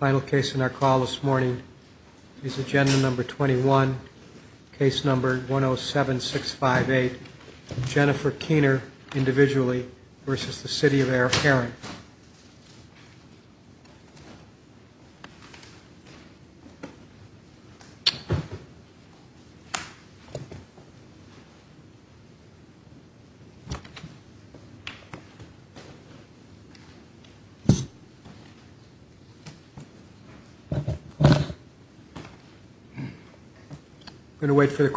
Final case in our call this morning is agenda number 21, case number 107658, Jennifer Keener v. City of Herrin Good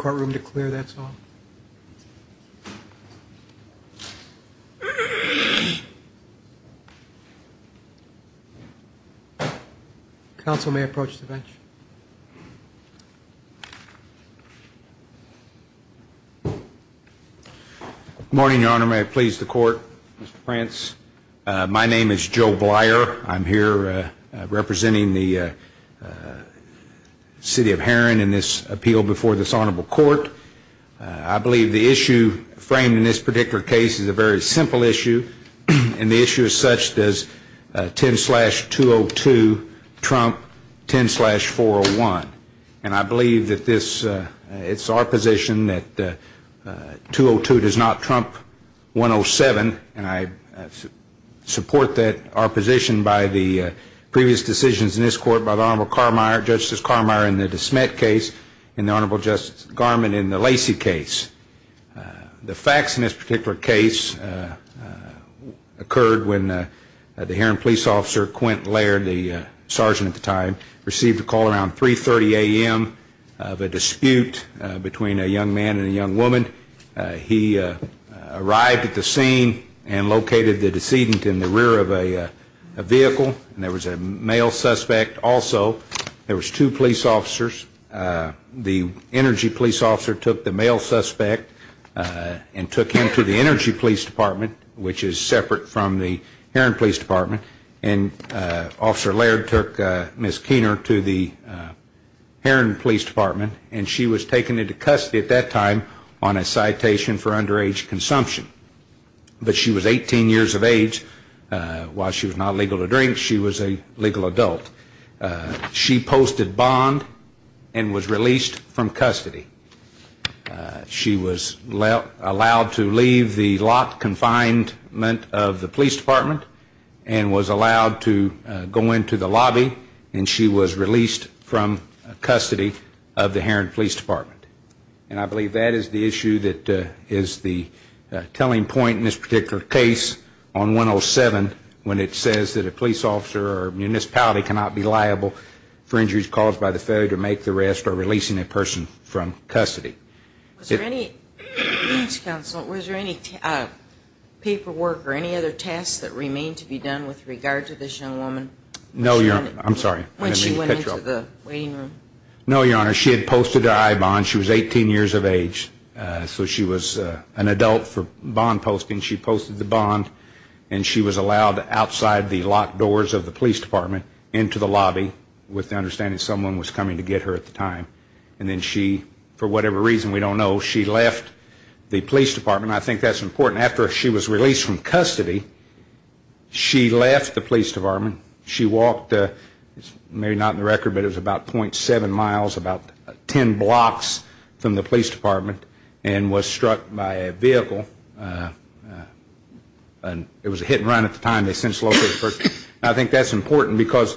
morning, Your Honor. May I please the Court, Mr. Prance? My name is Joe Blier. I'm here representing the City of Herrin in this appeal before this case is a very simple issue, and the issue is such, does 10-202 trump 10-401? And I believe that this, it's our position that 202 does not trump 107, and I support that our position by the previous decisions in this court by the Honorable Carmeier, Justice Carmeier in the DeSmet case, and the Honorable Justice Garmon in the Lacey case. The facts in this particular case occurred when the Herrin police officer, Quint Laird, the sergeant at the time, received a call around 3.30 a.m. of a dispute between a young man and a young woman. He arrived at the scene and located the decedent in the rear of a vehicle, and there was a male suspect also. There was two police officers. The energy police officer took the male suspect and took him to the energy police department, which is separate from the Herrin police department, and Officer Laird took Miss Keener to the Herrin police department, and she was taken into custody at that time on a citation for underage consumption. But she was 18 years of age. While she was not legal to drink, she was a legal adult. She posted bond and was released from custody. She was allowed to leave the locked confinement of the police department and was allowed to go into the lobby, and she was released from custody of the Herrin police department. And I believe that is the issue that is the telling point in this particular case on 107 when it says that a police officer or a municipality cannot be liable for injuries caused by the failure to make the arrest or releasing a person from custody. Was there any paperwork or any other tasks that remained to be done with regard to this young woman? No, Your Honor. I'm sorry. When she went into the waiting room? No, Your Honor. She had posted her I-bond. She was 18 years of age, so she was an adult for bond posting. She posted the bond, and she was allowed outside the locked doors of the police department into the lobby, with the understanding that someone was coming to get her at the time. And then she, for whatever reason we don't know, she left the police department. I think that's important. After she was released from custody, she left the police department. She walked, maybe not in the record, but it was about .7 miles, about 10 blocks from the police department, and was struck by a vehicle. It was a hit and run at the time. I think that's important because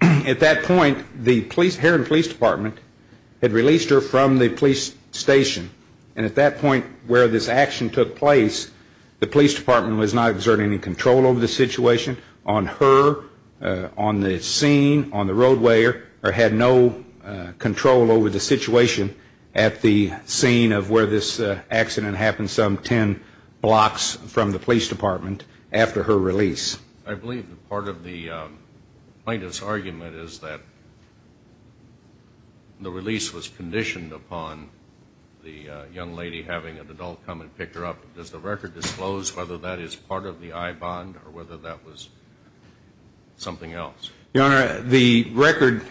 at that point the Herrin police department had released her from the police station, and at that point where this action took place, the police department was not exerting any control over the situation on her, on the scene, on the roadway, or had no control over the situation at the scene of where this accident happened some 10 blocks from the police department after her release. I believe that part of the plaintiff's argument is that the release was conditioned upon the young lady having an adult come and pick her up. Does the record disclose whether that is part of the I bond or whether that was something else? Your Honor, the record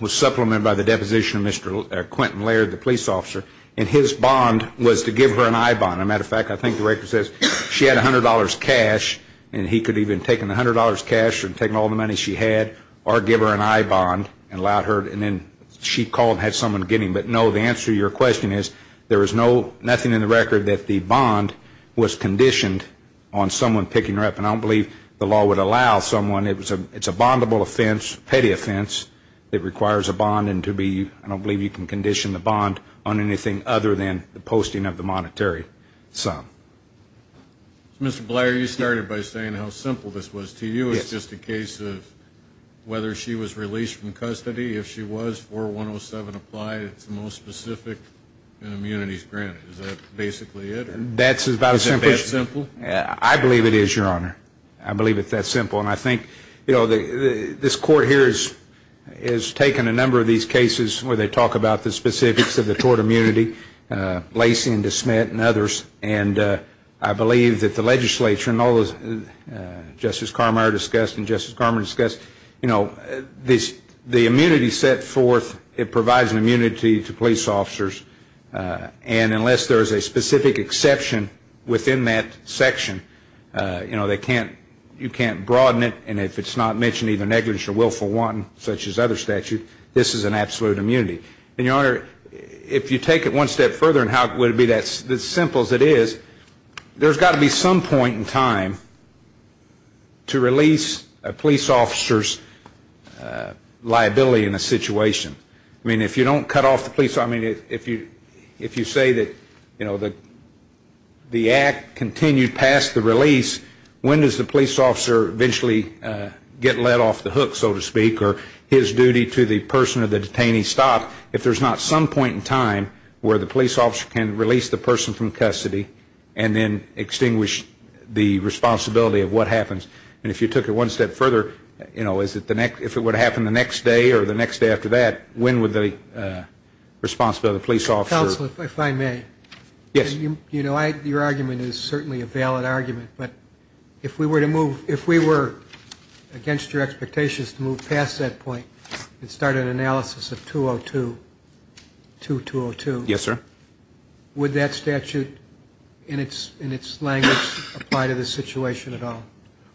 was supplemented by the deposition of Mr. Quentin Laird, the police officer, and his bond was to give her an I bond. As a matter of fact, I think the record says she had $100 cash, and he could have even taken the $100 cash and taken all the money she had or give her an I bond and allowed her, and then she called and had someone get him. But no, the answer to your question is there is nothing in the record that the bond was conditioned on someone picking her up, and I don't believe the law would allow someone. It's a bondable offense, a petty offense that requires a bond, and I don't believe you can condition the bond on anything other than the posting of the monetary sum. Mr. Blair, you started by saying how simple this was to you. Yes. It's just a case of whether she was released from custody. If she was, 4107 applied, it's the most specific, and immunity is granted. Is that basically it? That's about as simple. Is it that simple? I believe it is, Your Honor. I believe it's that simple. And I think, you know, this Court here has taken a number of these cases where they talk about the specifics of the tort immunity, Lacey and DeSmit and others, and I believe that the legislature and all those, Justice Carmeier discussed and Justice Carmeier discussed, you know, the immunity set forth, it provides an immunity to police officers, and unless there is a specific exception within that section, you know, they can't, you can't broaden it, and if it's not mentioned either negligence or willful wanton, such as other statutes, this is an absolute immunity. And, Your Honor, if you take it one step further, and would it be as simple as it is, there's got to be some point in time to release a police officer's liability in a situation. I mean, if you don't cut off the police officer, I mean, if you say that, you know, the act continued past the release, when does the police officer eventually get let off the hook, so to speak, or his duty to the person or the detainee stopped if there's not some point in time where the police officer can release the person from custody and then extinguish the responsibility of what happens. And if you took it one step further, you know, is it the next, if it would happen the next day or the next day after that, when would the responsibility of the police officer. Counsel, if I may. Yes. You know, your argument is certainly a valid argument, but if we were to move, if we were against your expectations to move past that point and start an analysis of 202, 2202. Yes, sir. Would that statute in its language apply to this situation at all?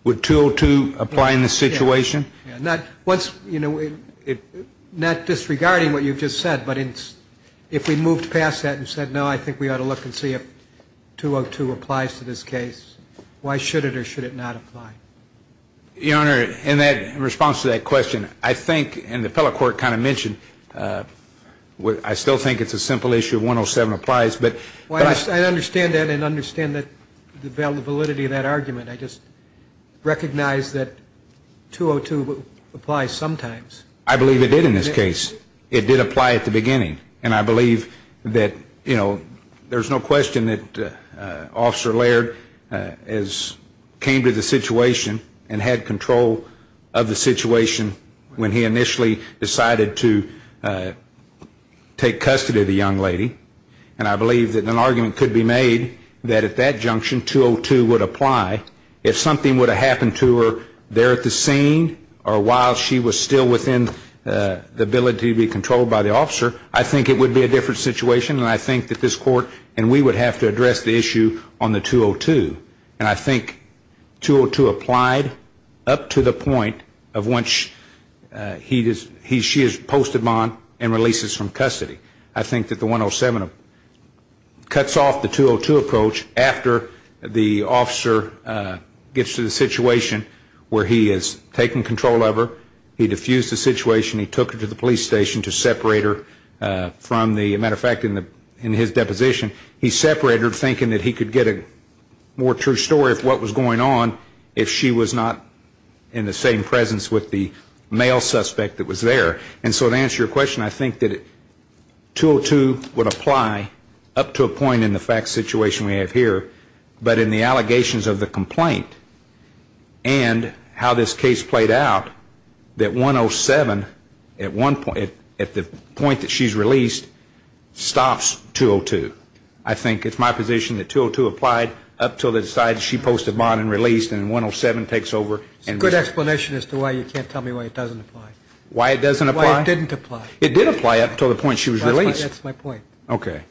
Would 202 apply in this situation? Not disregarding what you've just said, but if we moved past that and said, no, I think we ought to look and see if 202 applies to this case, why should it or should it not apply? Your Honor, in response to that question, I think, and the fellow court kind of mentioned, I still think it's a simple issue, 107 applies, but. I understand that and understand the validity of that argument. I just recognize that 202 applies sometimes. I believe it did in this case. It did apply at the beginning, and I believe that, you know, there's no question that Officer Laird came to the situation and had control of the situation when he initially decided to take custody of the young lady, and I believe that an argument could be made that at that junction 202 would apply if something would have happened to her there at the scene or while she was still within the ability to be controlled by the officer. I think it would be a different situation, and I think that this court and we would have to address the issue on the 202, and I think 202 applied up to the point of when she is posted on and releases from custody. I think that the 107 cuts off the 202 approach after the officer gets to the situation where he has taken control of her, he diffused the situation, he took her to the police station to separate her from the, as a matter of fact, in his deposition, he separated her thinking that he could get a more true story of what was going on if she was not in the same presence with the male suspect that was there. And so to answer your question, I think that 202 would apply up to a point in the fact situation we have here, but in the allegations of the complaint and how this case played out, that 107 at the point that she's released stops 202. I think it's my position that 202 applied up until they decided she posted on and released and 107 takes over. It's a good explanation as to why you can't tell me why it doesn't apply. Why it doesn't apply? Why it didn't apply. It did apply up until the point she was released. That's my point. Okay.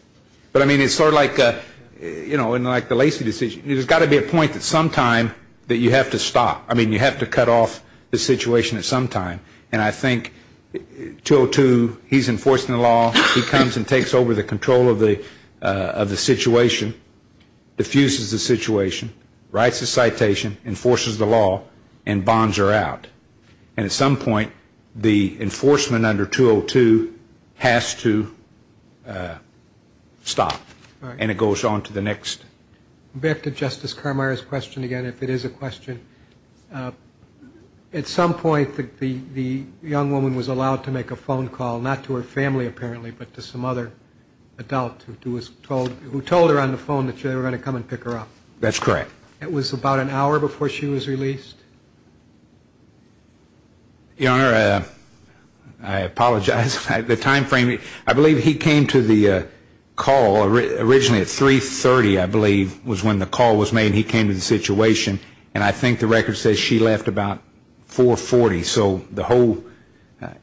But, I mean, it's sort of like the Lacey decision. There's got to be a point at some time that you have to stop. I mean, you have to cut off the situation at some time, and I think 202, he's enforcing the law, he comes and takes over the control of the situation, diffuses the situation, writes a citation, enforces the law, and bonds her out. And at some point, the enforcement under 202 has to stop, and it goes on to the next. Back to Justice Carmire's question again, if it is a question. At some point, the young woman was allowed to make a phone call, not to her family, apparently, but to some other adult who told her on the phone that they were going to come and pick her up. That's correct. It was about an hour before she was released? Your Honor, I apologize. The time frame, I believe he came to the call originally at 3.30, I believe, was when the call was made. He came to the situation, and I think the record says she left about 4.40.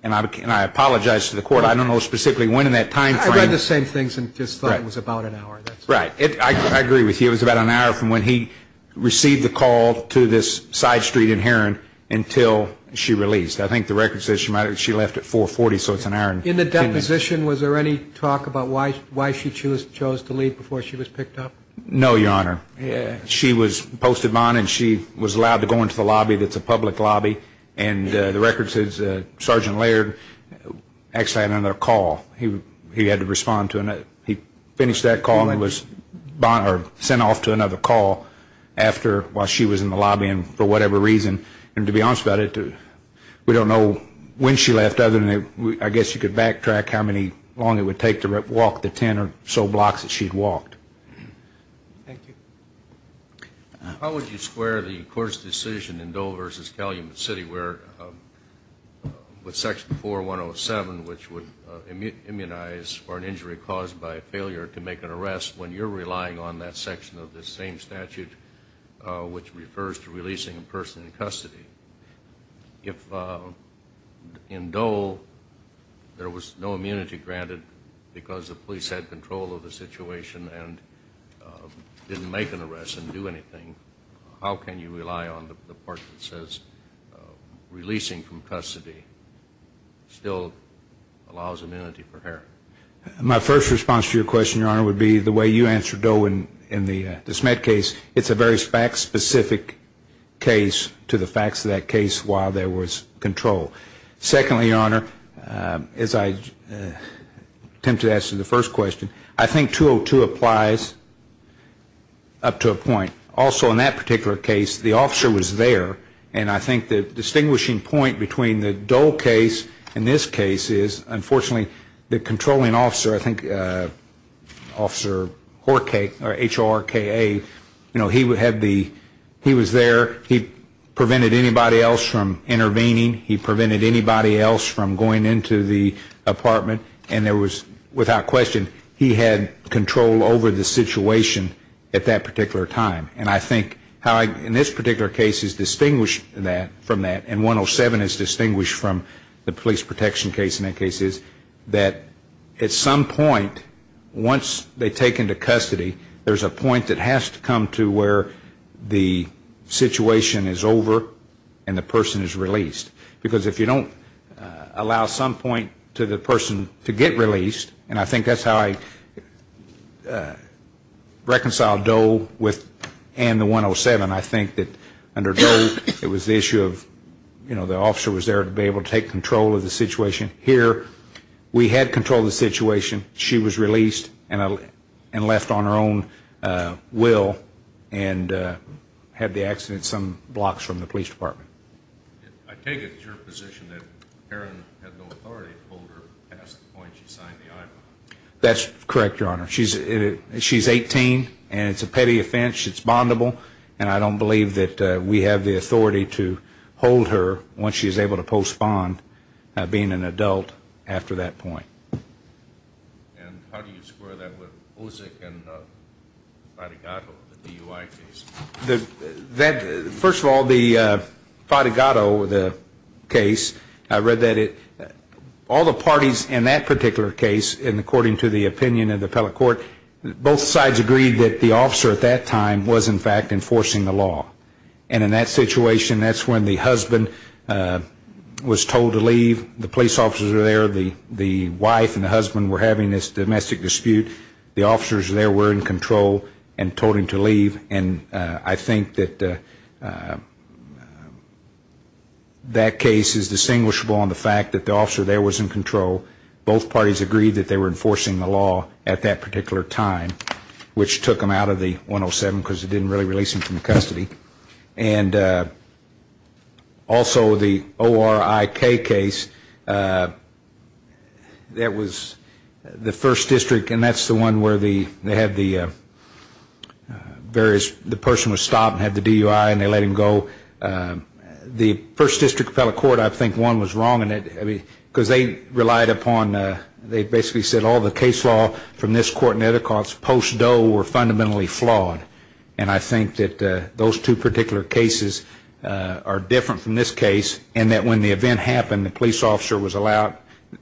And I apologize to the Court. I don't know specifically when in that time frame. I read the same things and just thought it was about an hour. Right. I agree with you. It was about an hour from when he received the call to this side street in Heron until she released. I think the record says she left at 4.40, so it's an hour. In the deposition, was there any talk about why she chose to leave before she was picked up? No, Your Honor. She was posted on and she was allowed to go into the lobby that's a public lobby, and the record says Sergeant Laird actually had another call. He had to respond to another. He finished that call and was sent off to another call while she was in the lobby for whatever reason. And to be honest about it, we don't know when she left, other than I guess you could backtrack how long it would take to walk the ten or so blocks that she'd walked. Thank you. How would you square the Court's decision in Doe v. Calumet City with Section 4107, which would immunize for an injury caused by failure to make an arrest, when you're relying on that section of the same statute, which refers to releasing a person in custody? If in Doe there was no immunity granted because the police had control of the situation and didn't make an arrest and do anything, how can you rely on the part that says releasing from custody still allows immunity for her? My first response to your question, Your Honor, would be the way you answered Doe in the Smed case. It's a very fact-specific case to the facts of that case while there was control. Secondly, Your Honor, as I attempted to answer the first question, I think 202 applies up to a point. Also, in that particular case, the officer was there, and I think the distinguishing point between the Doe case and this case is, unfortunately, the controlling officer, I think Officer Horka, H-O-R-K-A, he was there. He prevented anybody else from intervening. He prevented anybody else from going into the apartment. And there was, without question, he had control over the situation at that particular time. And I think in this particular case is distinguished from that, and 107 is distinguished from the police protection case in that case, is that at some point, once they take into custody, there's a point that has to come to where the situation is over and the person is released. Because if you don't allow some point to the person to get released, and I think that's how I reconciled Doe and the 107, I think that under Doe, it was the issue of, you know, the officer was there to be able to take control of the situation. Here, we had control of the situation. She was released and left on her own will and had the accident some blocks from the police department. I take it it's your position that Karen had no authority to hold her past the point she signed the IPA. That's correct, Your Honor. She's 18, and it's a petty offense. It's bondable, and I don't believe that we have the authority to hold her once she's able to postpone being an adult after that point. And how do you square that with Ozick and Fadegato, the DUI case? First of all, the Fadegato case, I read that all the parties in that particular case, and according to the opinion of the appellate court, both sides agreed that the officer at that time was, in fact, enforcing the law. And in that situation, that's when the husband was told to leave. The police officers were there. The wife and the husband were having this domestic dispute. The officers there were in control and told him to leave, and I think that that case is distinguishable on the fact that the officer there was in control. Both parties agreed that they were enforcing the law at that particular time, which took them out of the 107 because it didn't really release them from custody. And also the ORIK case, that was the first district, and that's the one where the person was stopped and had the DUI and they let him go. The first district appellate court, I think one was wrong in it because they relied upon, they basically said, all the case law from this court and the other courts post Doe were fundamentally flawed. And I think that those two particular cases are different from this case and that when the event happened, the police officer was allowed,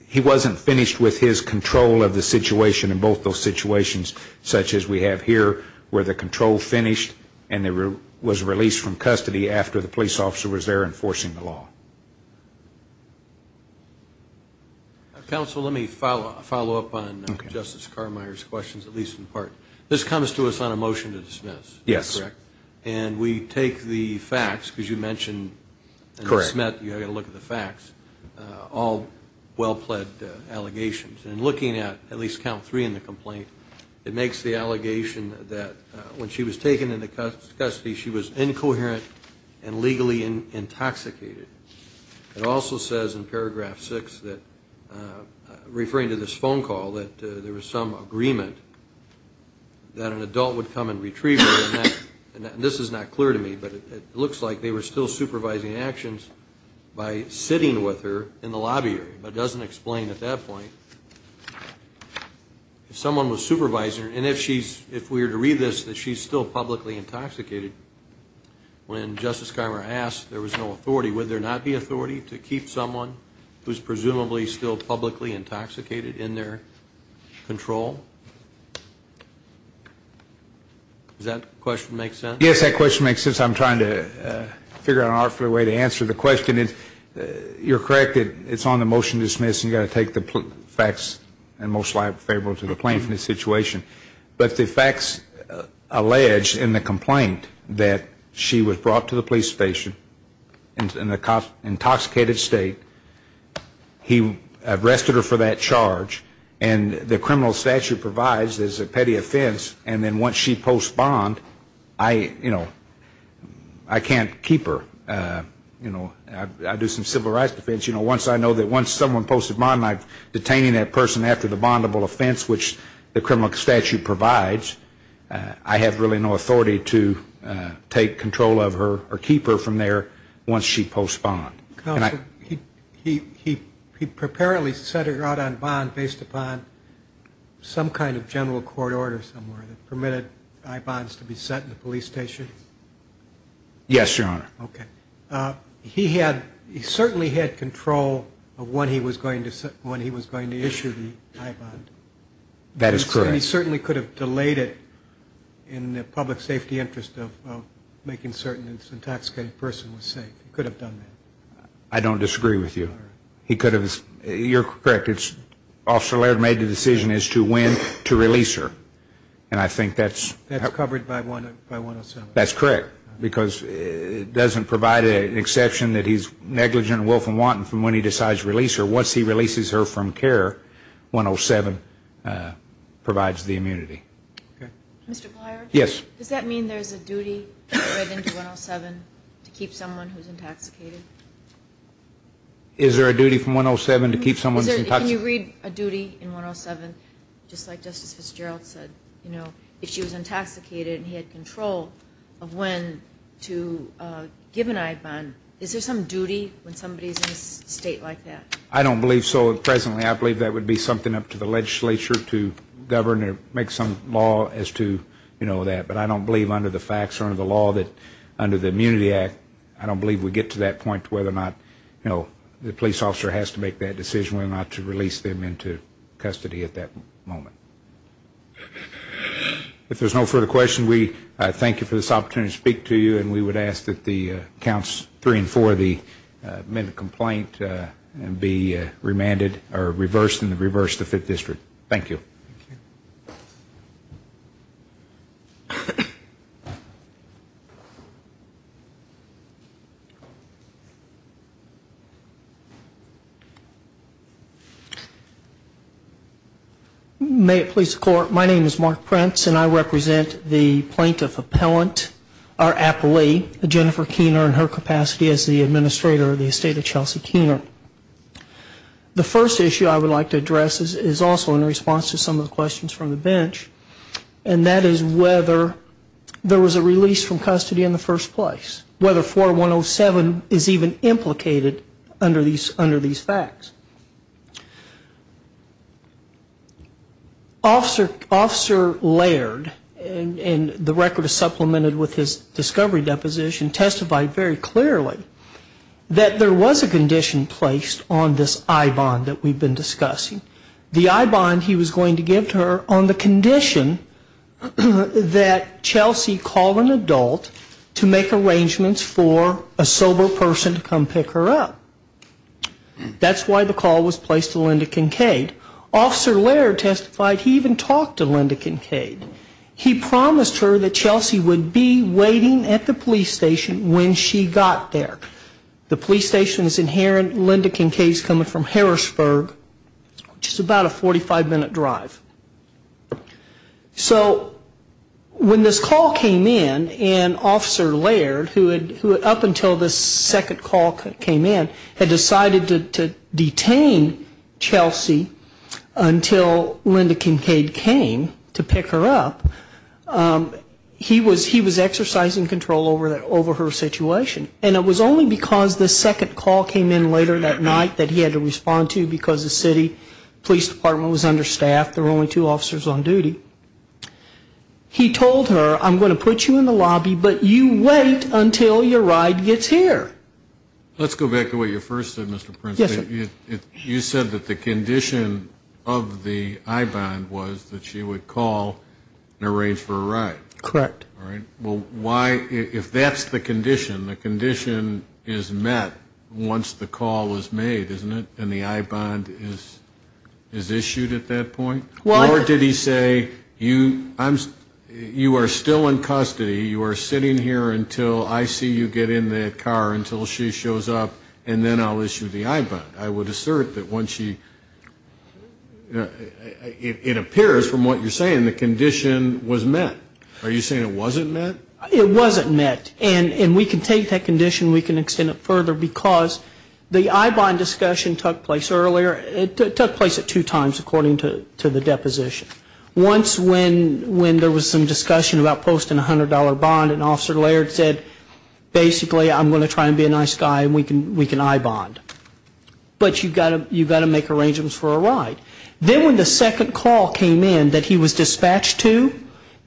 he wasn't finished with his control of the situation in both those situations, such as we have here where the control finished and was released from custody after the police officer was there enforcing the law. Counsel, let me follow up on Justice Carmeier's questions, at least in part. This comes to us on a motion to dismiss, correct? Yes. And we take the facts, because you mentioned, and Smit, you had a look at the facts, all well-pledged allegations. And looking at at least count three in the complaint, it makes the allegation that when she was taken into custody, she was incoherent and legally intoxicated. It also says in paragraph six, referring to this phone call, that there was some agreement that an adult would come and retrieve her. And this is not clear to me, but it looks like they were still supervising actions by sitting with her in the lobby, but it doesn't explain at that point. If someone was supervising, and if we were to read this, that she's still publicly intoxicated, when Justice Carmeier asked, there was no authority, would there not be authority to keep someone who's presumably still publicly intoxicated in their control? Does that question make sense? Yes, that question makes sense. I'm trying to figure out an artful way to answer the question. You're correct, it's on the motion to dismiss, and you've got to take the facts and most likely favorable to the plaintiff in this situation. But the facts allege in the complaint that she was brought to the police station in an intoxicated state, he arrested her for that charge, and the criminal statute provides there's a petty offense, and then once she posts bond, I can't keep her. I do some civil rights defense. You know, once I know that once someone posted bond, I'm detaining that person after the bondable offense, which the criminal statute provides, I have really no authority to take control of her or keep her from there once she posts bond. Counsel, he preparely set her out on bond based upon some kind of general court order somewhere that permitted I-bonds to be set in the police station? Yes, Your Honor. Okay. He certainly had control of when he was going to issue the I-bond. That is correct. He certainly could have delayed it in the public safety interest of making certain this intoxicated person was safe. He could have done that. I don't disagree with you. He could have. You're correct. Officer Laird made the decision as to when to release her, and I think that's That's covered by 107. That's correct because it doesn't provide an exception that he's negligent, willful and wanton from when he decides to release her. Once he releases her from care, 107 provides the immunity. Mr. Plyer? Yes. Does that mean there's a duty written into 107 to keep someone who's intoxicated? Is there a duty from 107 to keep someone who's intoxicated? Can you read a duty in 107 just like Justice Fitzgerald said? If she was intoxicated and he had control of when to give an I-bond, is there some duty when somebody's in a state like that? I don't believe so. Presently, I believe that would be something up to the legislature to govern or make some law as to that. But I don't believe under the facts or under the law that under the Immunity Act, I don't believe we get to that point to whether or not the police officer has to make that decision whether or not to release them into custody at that moment. If there's no further questions, we thank you for this opportunity to speak to you, and we would ask that the counts three and four of the amended complaint be remanded or reversed and reversed to Fifth District. Thank you. Thank you. May it please the Court, my name is Mark Prince, and I represent the plaintiff appellant or appellee, Jennifer Keener, in her capacity as the administrator of the estate of Chelsea Keener. The first issue I would like to address is also in response to some of the questions from the bench, and that is whether there was a release from custody in the first place, whether 4107 is even implicated under these facts. Officer Laird, and the record is supplemented with his discovery deposition, testified very clearly that there was a condition placed on this I-bond that we've been discussing. The I-bond he was going to give to her on the condition that Chelsea call an adult to make arrangements for a sober person to come pick her up. That's why the call was placed to Linda Kincaid. Officer Laird testified he even talked to Linda Kincaid. He promised her that Chelsea would be waiting at the police station when she got there. The police station is in Heron. Linda Kincaid is coming from Harrisburg, which is about a 45-minute drive. So when this call came in and Officer Laird, who up until this second call came in, had decided to detain Chelsea until Linda Kincaid came to pick her up, he was exercising control over her situation. And it was only because this second call came in later that night that he had to respond to because the city police department was understaffed. There were only two officers on duty. He told her, I'm going to put you in the lobby, but you wait until your ride gets here. Let's go back to what you first said, Mr. Prince. Yes, sir. You said that the condition of the I-bond was that she would call and arrange for a ride. Correct. All right. Well, why, if that's the condition, the condition is met once the call is made, isn't it, and the I-bond is issued at that point? Or did he say, you are still in custody, you are sitting here until I see you get in that car, until she shows up, and then I'll issue the I-bond? I would assert that once she, it appears from what you're saying the condition was met. Are you saying it wasn't met? It wasn't met. And we can take that condition, we can extend it further, because the I-bond discussion took place earlier. It took place at two times, according to the deposition. Once when there was some discussion about posting a $100 bond, and Officer Laird said, basically, I'm going to try and be a nice guy and we can I-bond. But you've got to make arrangements for a ride. Then when the second call came in that he was dispatched to,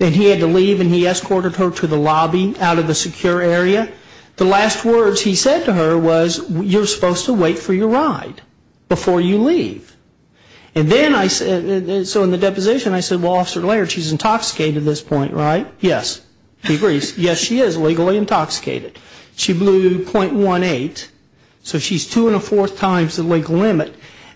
and he had to leave and he escorted her to the lobby out of the secure area, the last words he said to her was, you're supposed to wait for your ride before you leave. And then I said, so in the deposition I said, well, Officer Laird, she's intoxicated at this point, right? Yes. He agrees. Yes, she is legally intoxicated. She blew .18, so she's two and a fourth times the legal limit.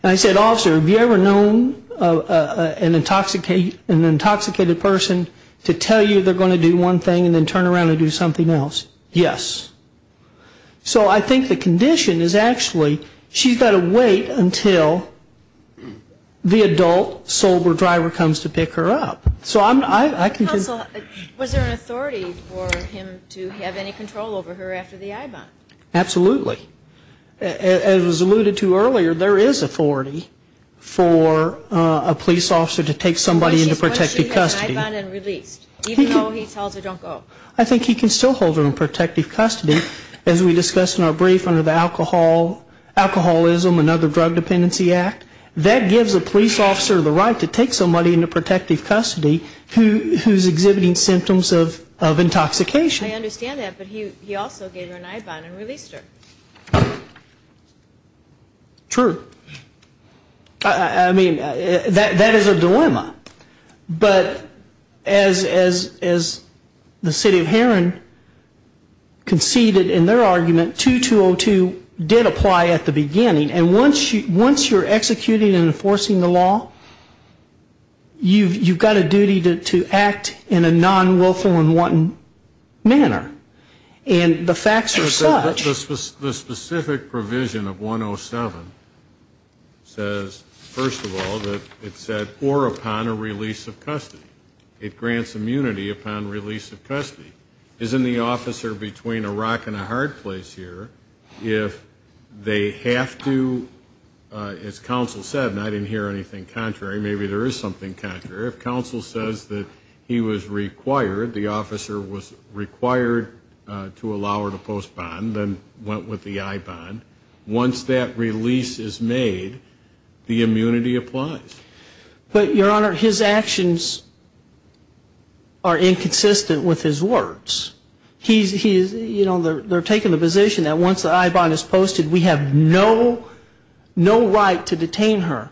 And I said, Officer, have you ever known an intoxicated person to tell you they're going to do one thing and then turn around and do something else? Yes. So I think the condition is actually she's got to wait until the adult sober driver comes to pick her up. So I can just – Counsel, was there an authority for him to have any control over her after the I-bond? Absolutely. As was alluded to earlier, there is authority for a police officer to take somebody into protective custody. Once she has an I-bond and released, even though he tells her don't go. I think he can still hold her in protective custody, as we discussed in our brief under the Alcoholism and Other Drug Dependency Act. That gives a police officer the right to take somebody into protective custody who's exhibiting symptoms of intoxication. I understand that, but he also gave her an I-bond and released her. I mean, that is a dilemma. But as the city of Heron conceded in their argument, 2202 did apply at the beginning. And once you're executing and enforcing the law, you've got a duty to act in a non-wilful and wanton manner. And the facts are such – It grants immunity upon release of custody. Isn't the officer between a rock and a hard place here if they have to, as counsel said, and I didn't hear anything contrary, maybe there is something contrary, if counsel says that he was required, the officer was required to allow her to postpone, then went with the I-bond, once that release is made, the immunity applies. But, Your Honor, his actions are inconsistent with his words. He's, you know, they're taking the position that once the I-bond is posted, we have no right to detain her.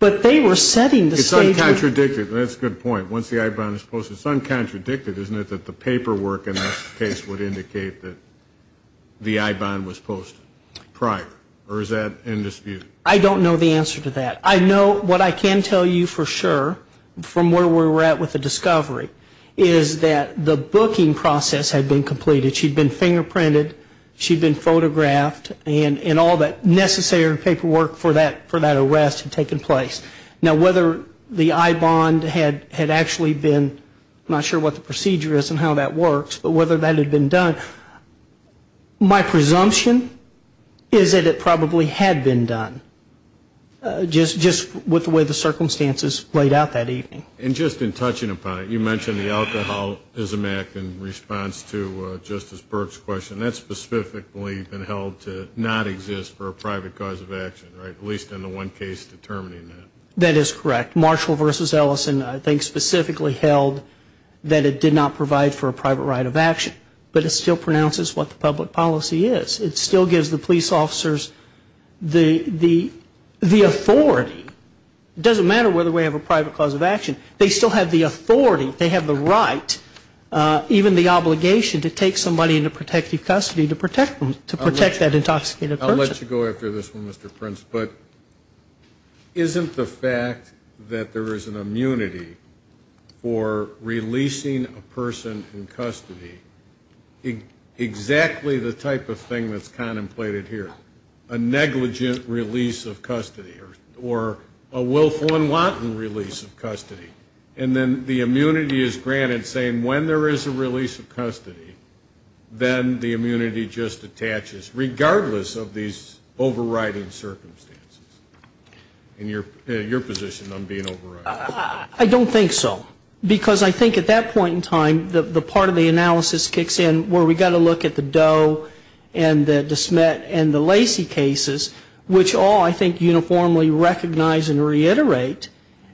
But they were setting the stage – It's uncontradicted, and that's a good point. Once the I-bond is posted, it's uncontradicted, isn't it, that the paperwork in this case would indicate that the I-bond was posted prior? Or is that in dispute? I don't know the answer to that. I know what I can tell you for sure, from where we're at with the discovery, is that the booking process had been completed. She'd been fingerprinted, she'd been photographed, and all that necessary paperwork for that arrest had taken place. Now, whether the I-bond had actually been, I'm not sure what the procedure is and how that works, but whether that had been done, my presumption is that it probably had been done. Just with the way the circumstances played out that evening. And just in touching upon it, you mentioned the alcoholism act in response to Justice Burke's question. That's specifically been held to not exist for a private cause of action, right, at least in the one case determining that. That is correct. Marshall v. Ellison, I think, specifically held that it did not provide for a private right of action, but it still pronounces what the public policy is. It still gives the police officers the authority. It doesn't matter whether we have a private cause of action. They still have the authority. They have the right, even the obligation, to take somebody into protective custody to protect them, to protect that intoxicated person. I'll let you go after this one, Mr. Prince, but isn't the fact that there is an immunity for releasing a person in custody exactly the type of thing that's contemplated here, a negligent release of custody or a willful and wanton release of custody? And then the immunity is granted, saying when there is a release of custody, then the immunity just attaches, regardless of these overriding circumstances. And your position on being overriding? I don't think so, because I think at that point in time, the part of the analysis kicks in where we've got to look at the Doe and the DeSmet and the Lacey cases, which all, I think, uniformly recognize and reiterate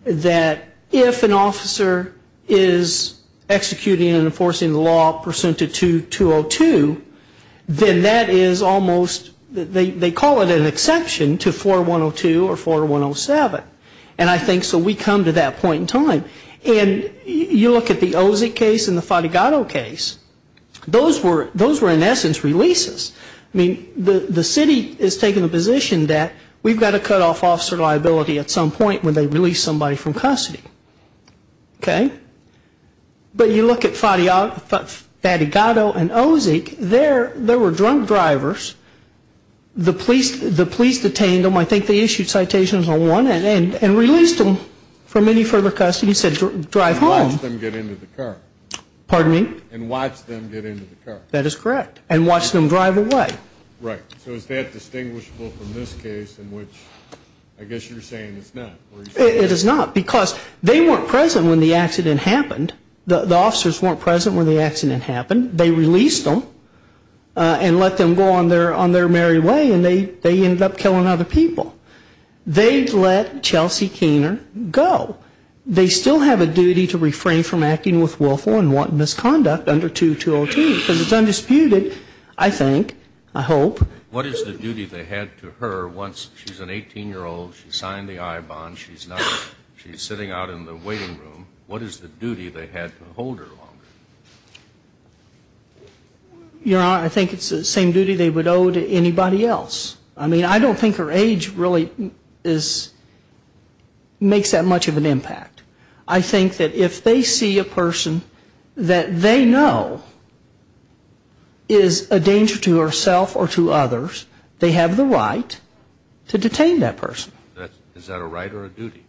that if an officer is executing and enforcing the law pursuant to 2.202, then that is almost, they call it an exception to 4.102 or 4.107. And I think so we come to that point in time. And you look at the Ozick case and the Fatigado case. Those were, in essence, releases. I mean, the city has taken the position that we've got to cut off officer liability at some point when they release somebody from custody. Okay? But you look at Fatigado and Ozick, there were drunk drivers. The police detained them. I think they issued citations on one and released them from any further custody. He said drive home. And watch them get into the car. Pardon me? And watch them get into the car. That is correct. And watch them drive away. Right. So is that distinguishable from this case in which I guess you're saying it's not? It is not, because they weren't present when the accident happened. The officers weren't present when the accident happened. They released them and let them go on their merry way. And they ended up killing other people. They let Chelsea Keener go. They still have a duty to refrain from acting with willful and wanton misconduct under 2202 because it's undisputed, I think, I hope. What is the duty they had to her once she's an 18-year-old, she signed the I-bond, she's sitting out in the waiting room? What is the duty they had to hold her longer? Your Honor, I think it's the same duty they would owe to anybody else. I mean, I don't think her age really makes that much of an impact. I think that if they see a person that they know is a danger to herself or to others, they have the right to detain that person. Is that a right or a duty?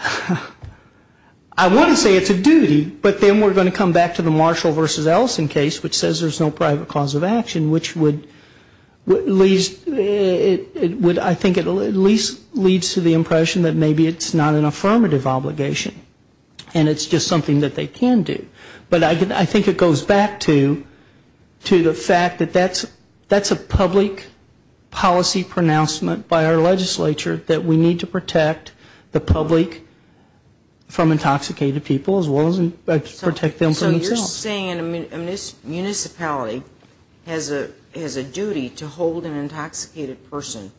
I want to say it's a duty, but then we're going to come back to the Marshall v. Ellison case, which says there's no private cause of action, which would at least, I think it at least leads to the impression that maybe it's not an affirmative obligation and it's just something that they can do. But I think it goes back to the fact that that's a public policy pronouncement by our legislature that we need to protect the public from intoxicated people as well as protect them from themselves. So you're saying a municipality has a duty to hold an intoxicated person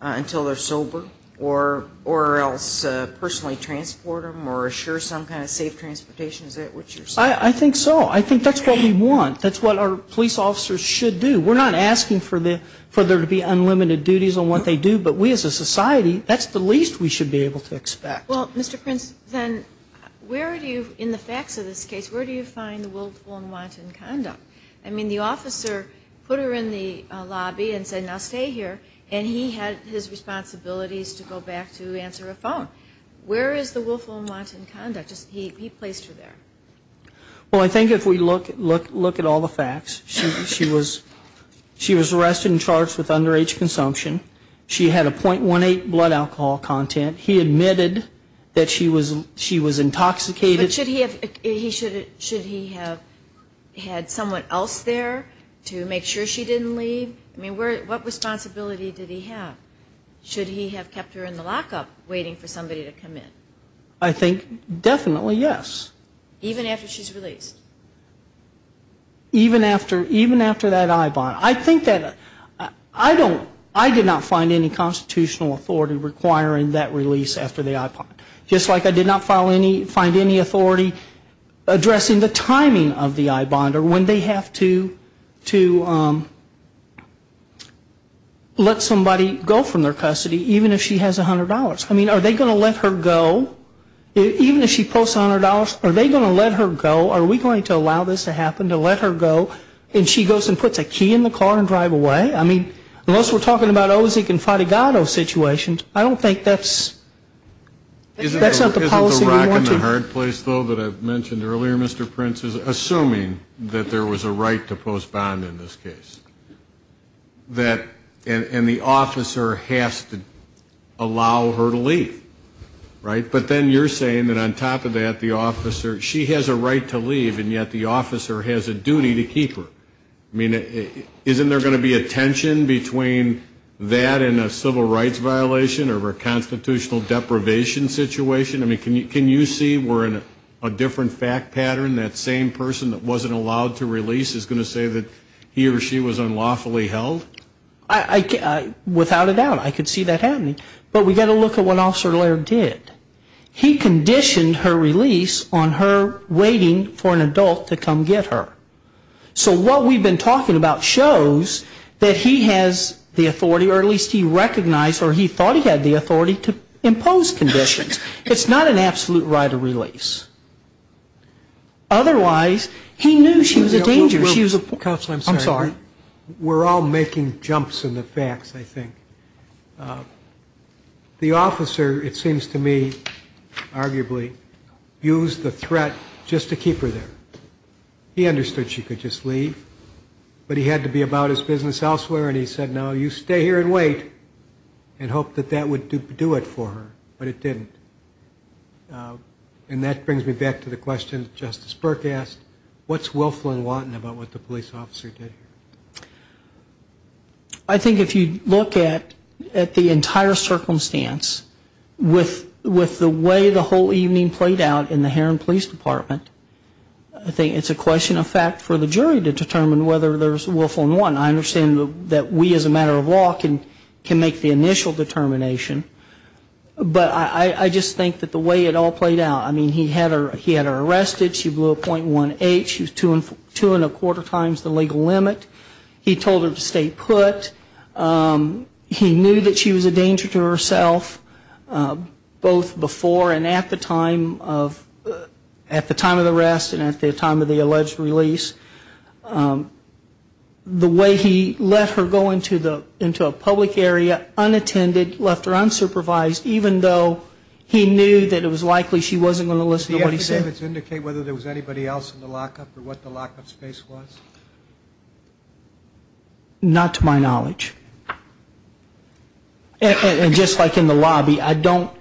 until they're sober or else personally transport them or assure some kind of safe transportation? Is that what you're saying? I think so. I think that's what we want. That's what our police officers should do. We're not asking for there to be unlimited duties on what they do, but we as a society, that's the least we should be able to expect. Well, Mr. Prince, then where do you, in the facts of this case, where do you find the willful and wanton conduct? I mean, the officer put her in the lobby and said, I'll stay here, and he had his responsibilities to go back to answer a phone. Where is the willful and wanton conduct? He placed her there. Well, I think if we look at all the facts, she was arrested and charged with underage consumption. She had a .18 blood alcohol content. He admitted that she was intoxicated. But should he have had someone else there to make sure she didn't leave? I mean, what responsibility did he have? Should he have kept her in the lockup waiting for somebody to come in? I think definitely yes. Even after she's released? Even after that I-bond. I think that I did not find any constitutional authority requiring that release after the I-bond. Just like I did not find any authority addressing the timing of the I-bond or when they have to let somebody go from their custody, even if she has $100. I mean, are they going to let her go? Even if she pulls $100, are they going to let her go? Are we going to allow this to happen, to let her go? And she goes and puts a key in the car and drives away? I mean, unless we're talking about Ozick and Fadigado situations, I don't think that's the policy we want to- that there was a right to post-bond in this case. And the officer has to allow her to leave, right? But then you're saying that on top of that, the officer-she has a right to leave, and yet the officer has a duty to keep her. I mean, isn't there going to be a tension between that and a civil rights violation or a constitutional deprivation situation? I mean, can you see we're in a different fact pattern? That same person that wasn't allowed to release is going to say that he or she was unlawfully held? Without a doubt, I could see that happening. But we've got to look at what Officer Laird did. He conditioned her release on her waiting for an adult to come get her. So what we've been talking about shows that he has the authority, or at least he recognized or he thought he had the authority to impose conditions. It's not an absolute right to release. Otherwise, he knew she was a danger. Counsel, I'm sorry. We're all making jumps in the facts, I think. The officer, it seems to me, arguably, used the threat just to keep her there. He understood she could just leave, but he had to be about his business elsewhere, and he said, no, you stay here and wait and hope that that would do it for her. But it didn't. And that brings me back to the question that Justice Burke asked. What's willful and wanton about what the police officer did here? I think if you look at the entire circumstance with the way the whole evening played out in the Heron Police Department, I think it's a question of fact for the jury to determine whether there's willful and wanton. I understand that we, as a matter of law, can make the initial determination. But I just think that the way it all played out, I mean, he had her arrested. She blew a .18. She was two and a quarter times the legal limit. He told her to stay put. He knew that she was a danger to herself, both before and at the time of the arrest and at the time of the alleged release. The way he let her go into a public area unattended, left her unsupervised, even though he knew that it was likely she wasn't going to listen to what he said. Did the affidavits indicate whether there was anybody else in the lockup or what the lockup space was? Not to my knowledge. And just like in the lobby, I don't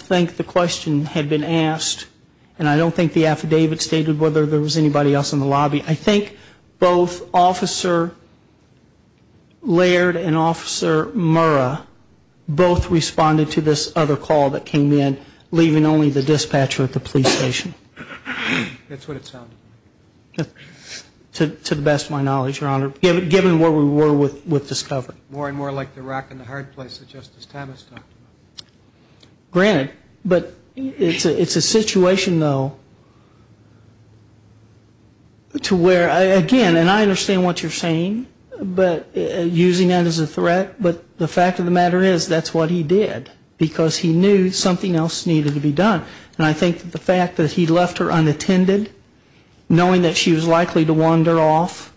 think the question had been asked, and I don't think the affidavit stated whether there was anybody else in the lobby. I think both Officer Laird and Officer Murrah both responded to this other call that came in, leaving only the dispatcher at the police station. That's what it sounded like. To the best of my knowledge, Your Honor, given where we were with Discover. More and more like the rock and the hard place that Justice Thomas talked about. Granted, but it's a situation though to where, again, and I understand what you're saying, but using that as a threat, but the fact of the matter is that's what he did because he knew something else needed to be done. And I think the fact that he left her unattended, knowing that she was likely to wander off,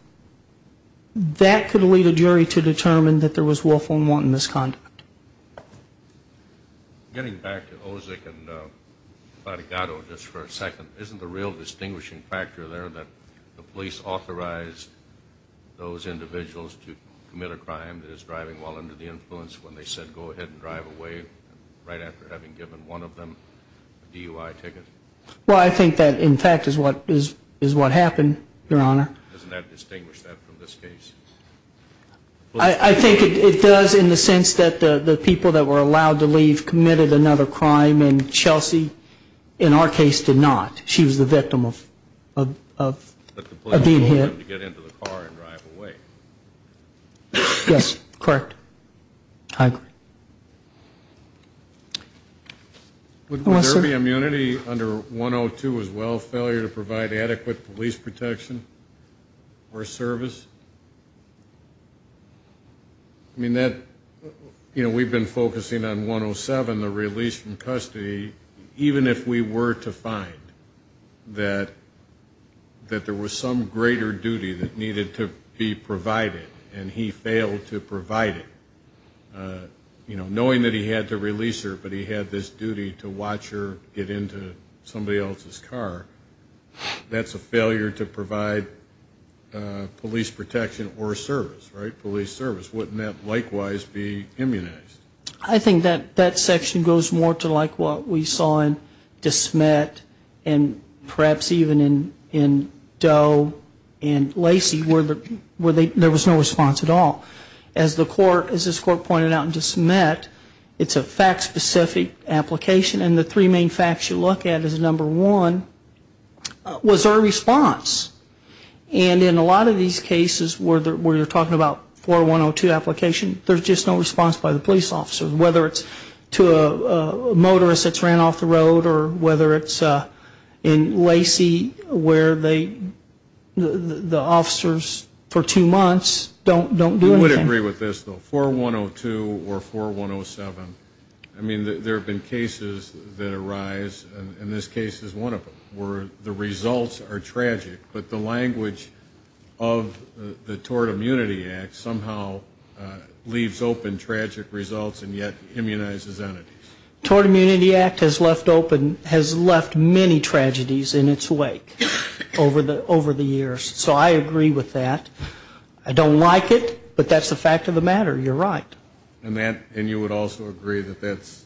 that could lead a jury to determine that there was willful and wanton misconduct. Getting back to Ozick and Faticado just for a second, isn't the real distinguishing factor there that the police authorized those individuals to commit a crime that is driving while under the influence when they said go ahead and drive away right after having given one of them a DUI ticket? Well, I think that, in fact, is what happened, Your Honor. Doesn't that distinguish that from this case? I think it does in the sense that the people that were allowed to leave committed another crime, and Chelsea, in our case, did not. She was the victim of being hit. But the police told them to get into the car and drive away. Yes, correct. I agree. Would there be immunity under 102 as well, failure to provide adequate police protection or service? I mean, we've been focusing on 107, the release from custody, even if we were to find that there was some greater duty that needed to be provided, and he failed to provide it. You know, knowing that he had to release her, but he had this duty to watch her get into somebody else's car, that's a failure to provide police protection or service, right, police service. Wouldn't that likewise be immunized? I think that that section goes more to like what we saw in DeSmet and perhaps even in Doe and Lacey where there was no response at all. As this court pointed out in DeSmet, it's a fact-specific application, and the three main facts you look at is number one, was there a response? And in a lot of these cases where you're talking about 4102 application, there's just no response by the police officers, whether it's to a motorist that's ran off the road or whether it's in Lacey where the officers for two months don't do anything. I would agree with this, though. 4102 or 4107, I mean, there have been cases that arise, and this case is one of them, where the results are tragic, but the language of the Tort Immunity Act somehow leaves open tragic results and yet immunizes entities. Tort Immunity Act has left many tragedies in its wake over the years, so I agree with that. I don't like it, but that's the fact of the matter. You're right. And you would also agree that that's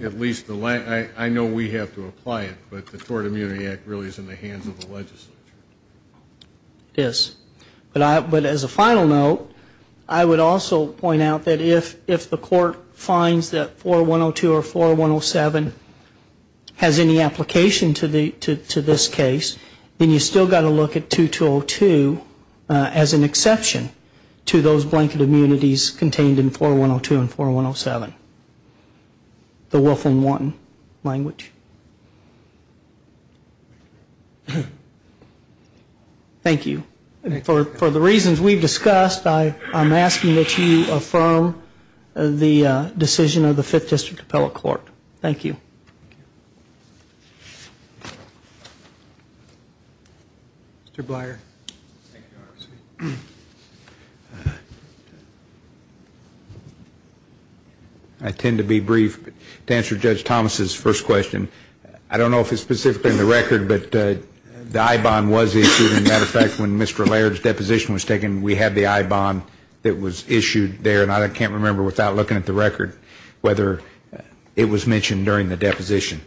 at least the language. I know we have to apply it, but the Tort Immunity Act really is in the hands of the legislature. It is. But as a final note, I would also point out that if the court finds that 4102 or 4107 has any application to this case, then you've still got to look at 2202 as an exception to those blanket immunities contained in 4102 and 4107, the Wolf and Wanton language. Thank you. For the reasons we've discussed, I'm asking that you affirm the decision of the Fifth District Appellate Court. Thank you. Mr. Blyer. I tend to be brief. To answer Judge Thomas's first question, I don't know if it's specifically in the record, but the I-bond was issued. As a matter of fact, when Mr. Laird's deposition was taken, we had the I-bond that was issued there, and I can't remember without looking at the record whether it was mentioned during the deposition.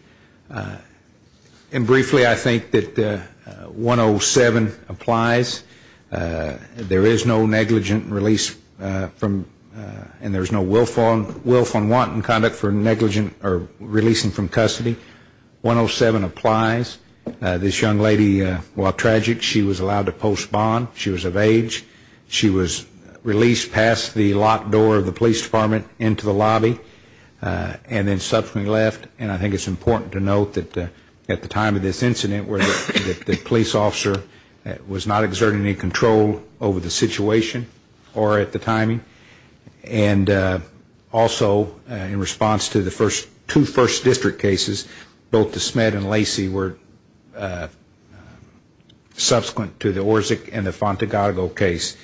Briefly, I think that 107 applies. There is no negligent release and there is no Wolf and Wanton conduct for releasing from custody. 107 applies. This young lady, while tragic, she was allowed to postpone. She was of age. She was released past the locked door of the police department into the lobby and then subsequently left. And I think it's important to note that at the time of this incident, the police officer was not exerting any control over the situation or at the timing. And also, in response to the two first district cases, both the Smed and Lacey were subsequent to the Orzek and the Fontagago case.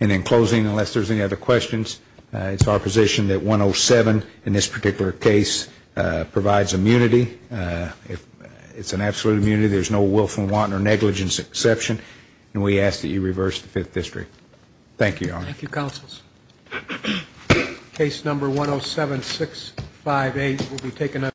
And in closing, unless there's any other questions, it's our position that 107 in this particular case provides immunity. It's an absolute immunity. There's no Wolf and Wanton or negligence exception, and we ask that you reverse the fifth district. Thank you, Your Honor. Thank you, counsels. Case number 107658 will be taken up.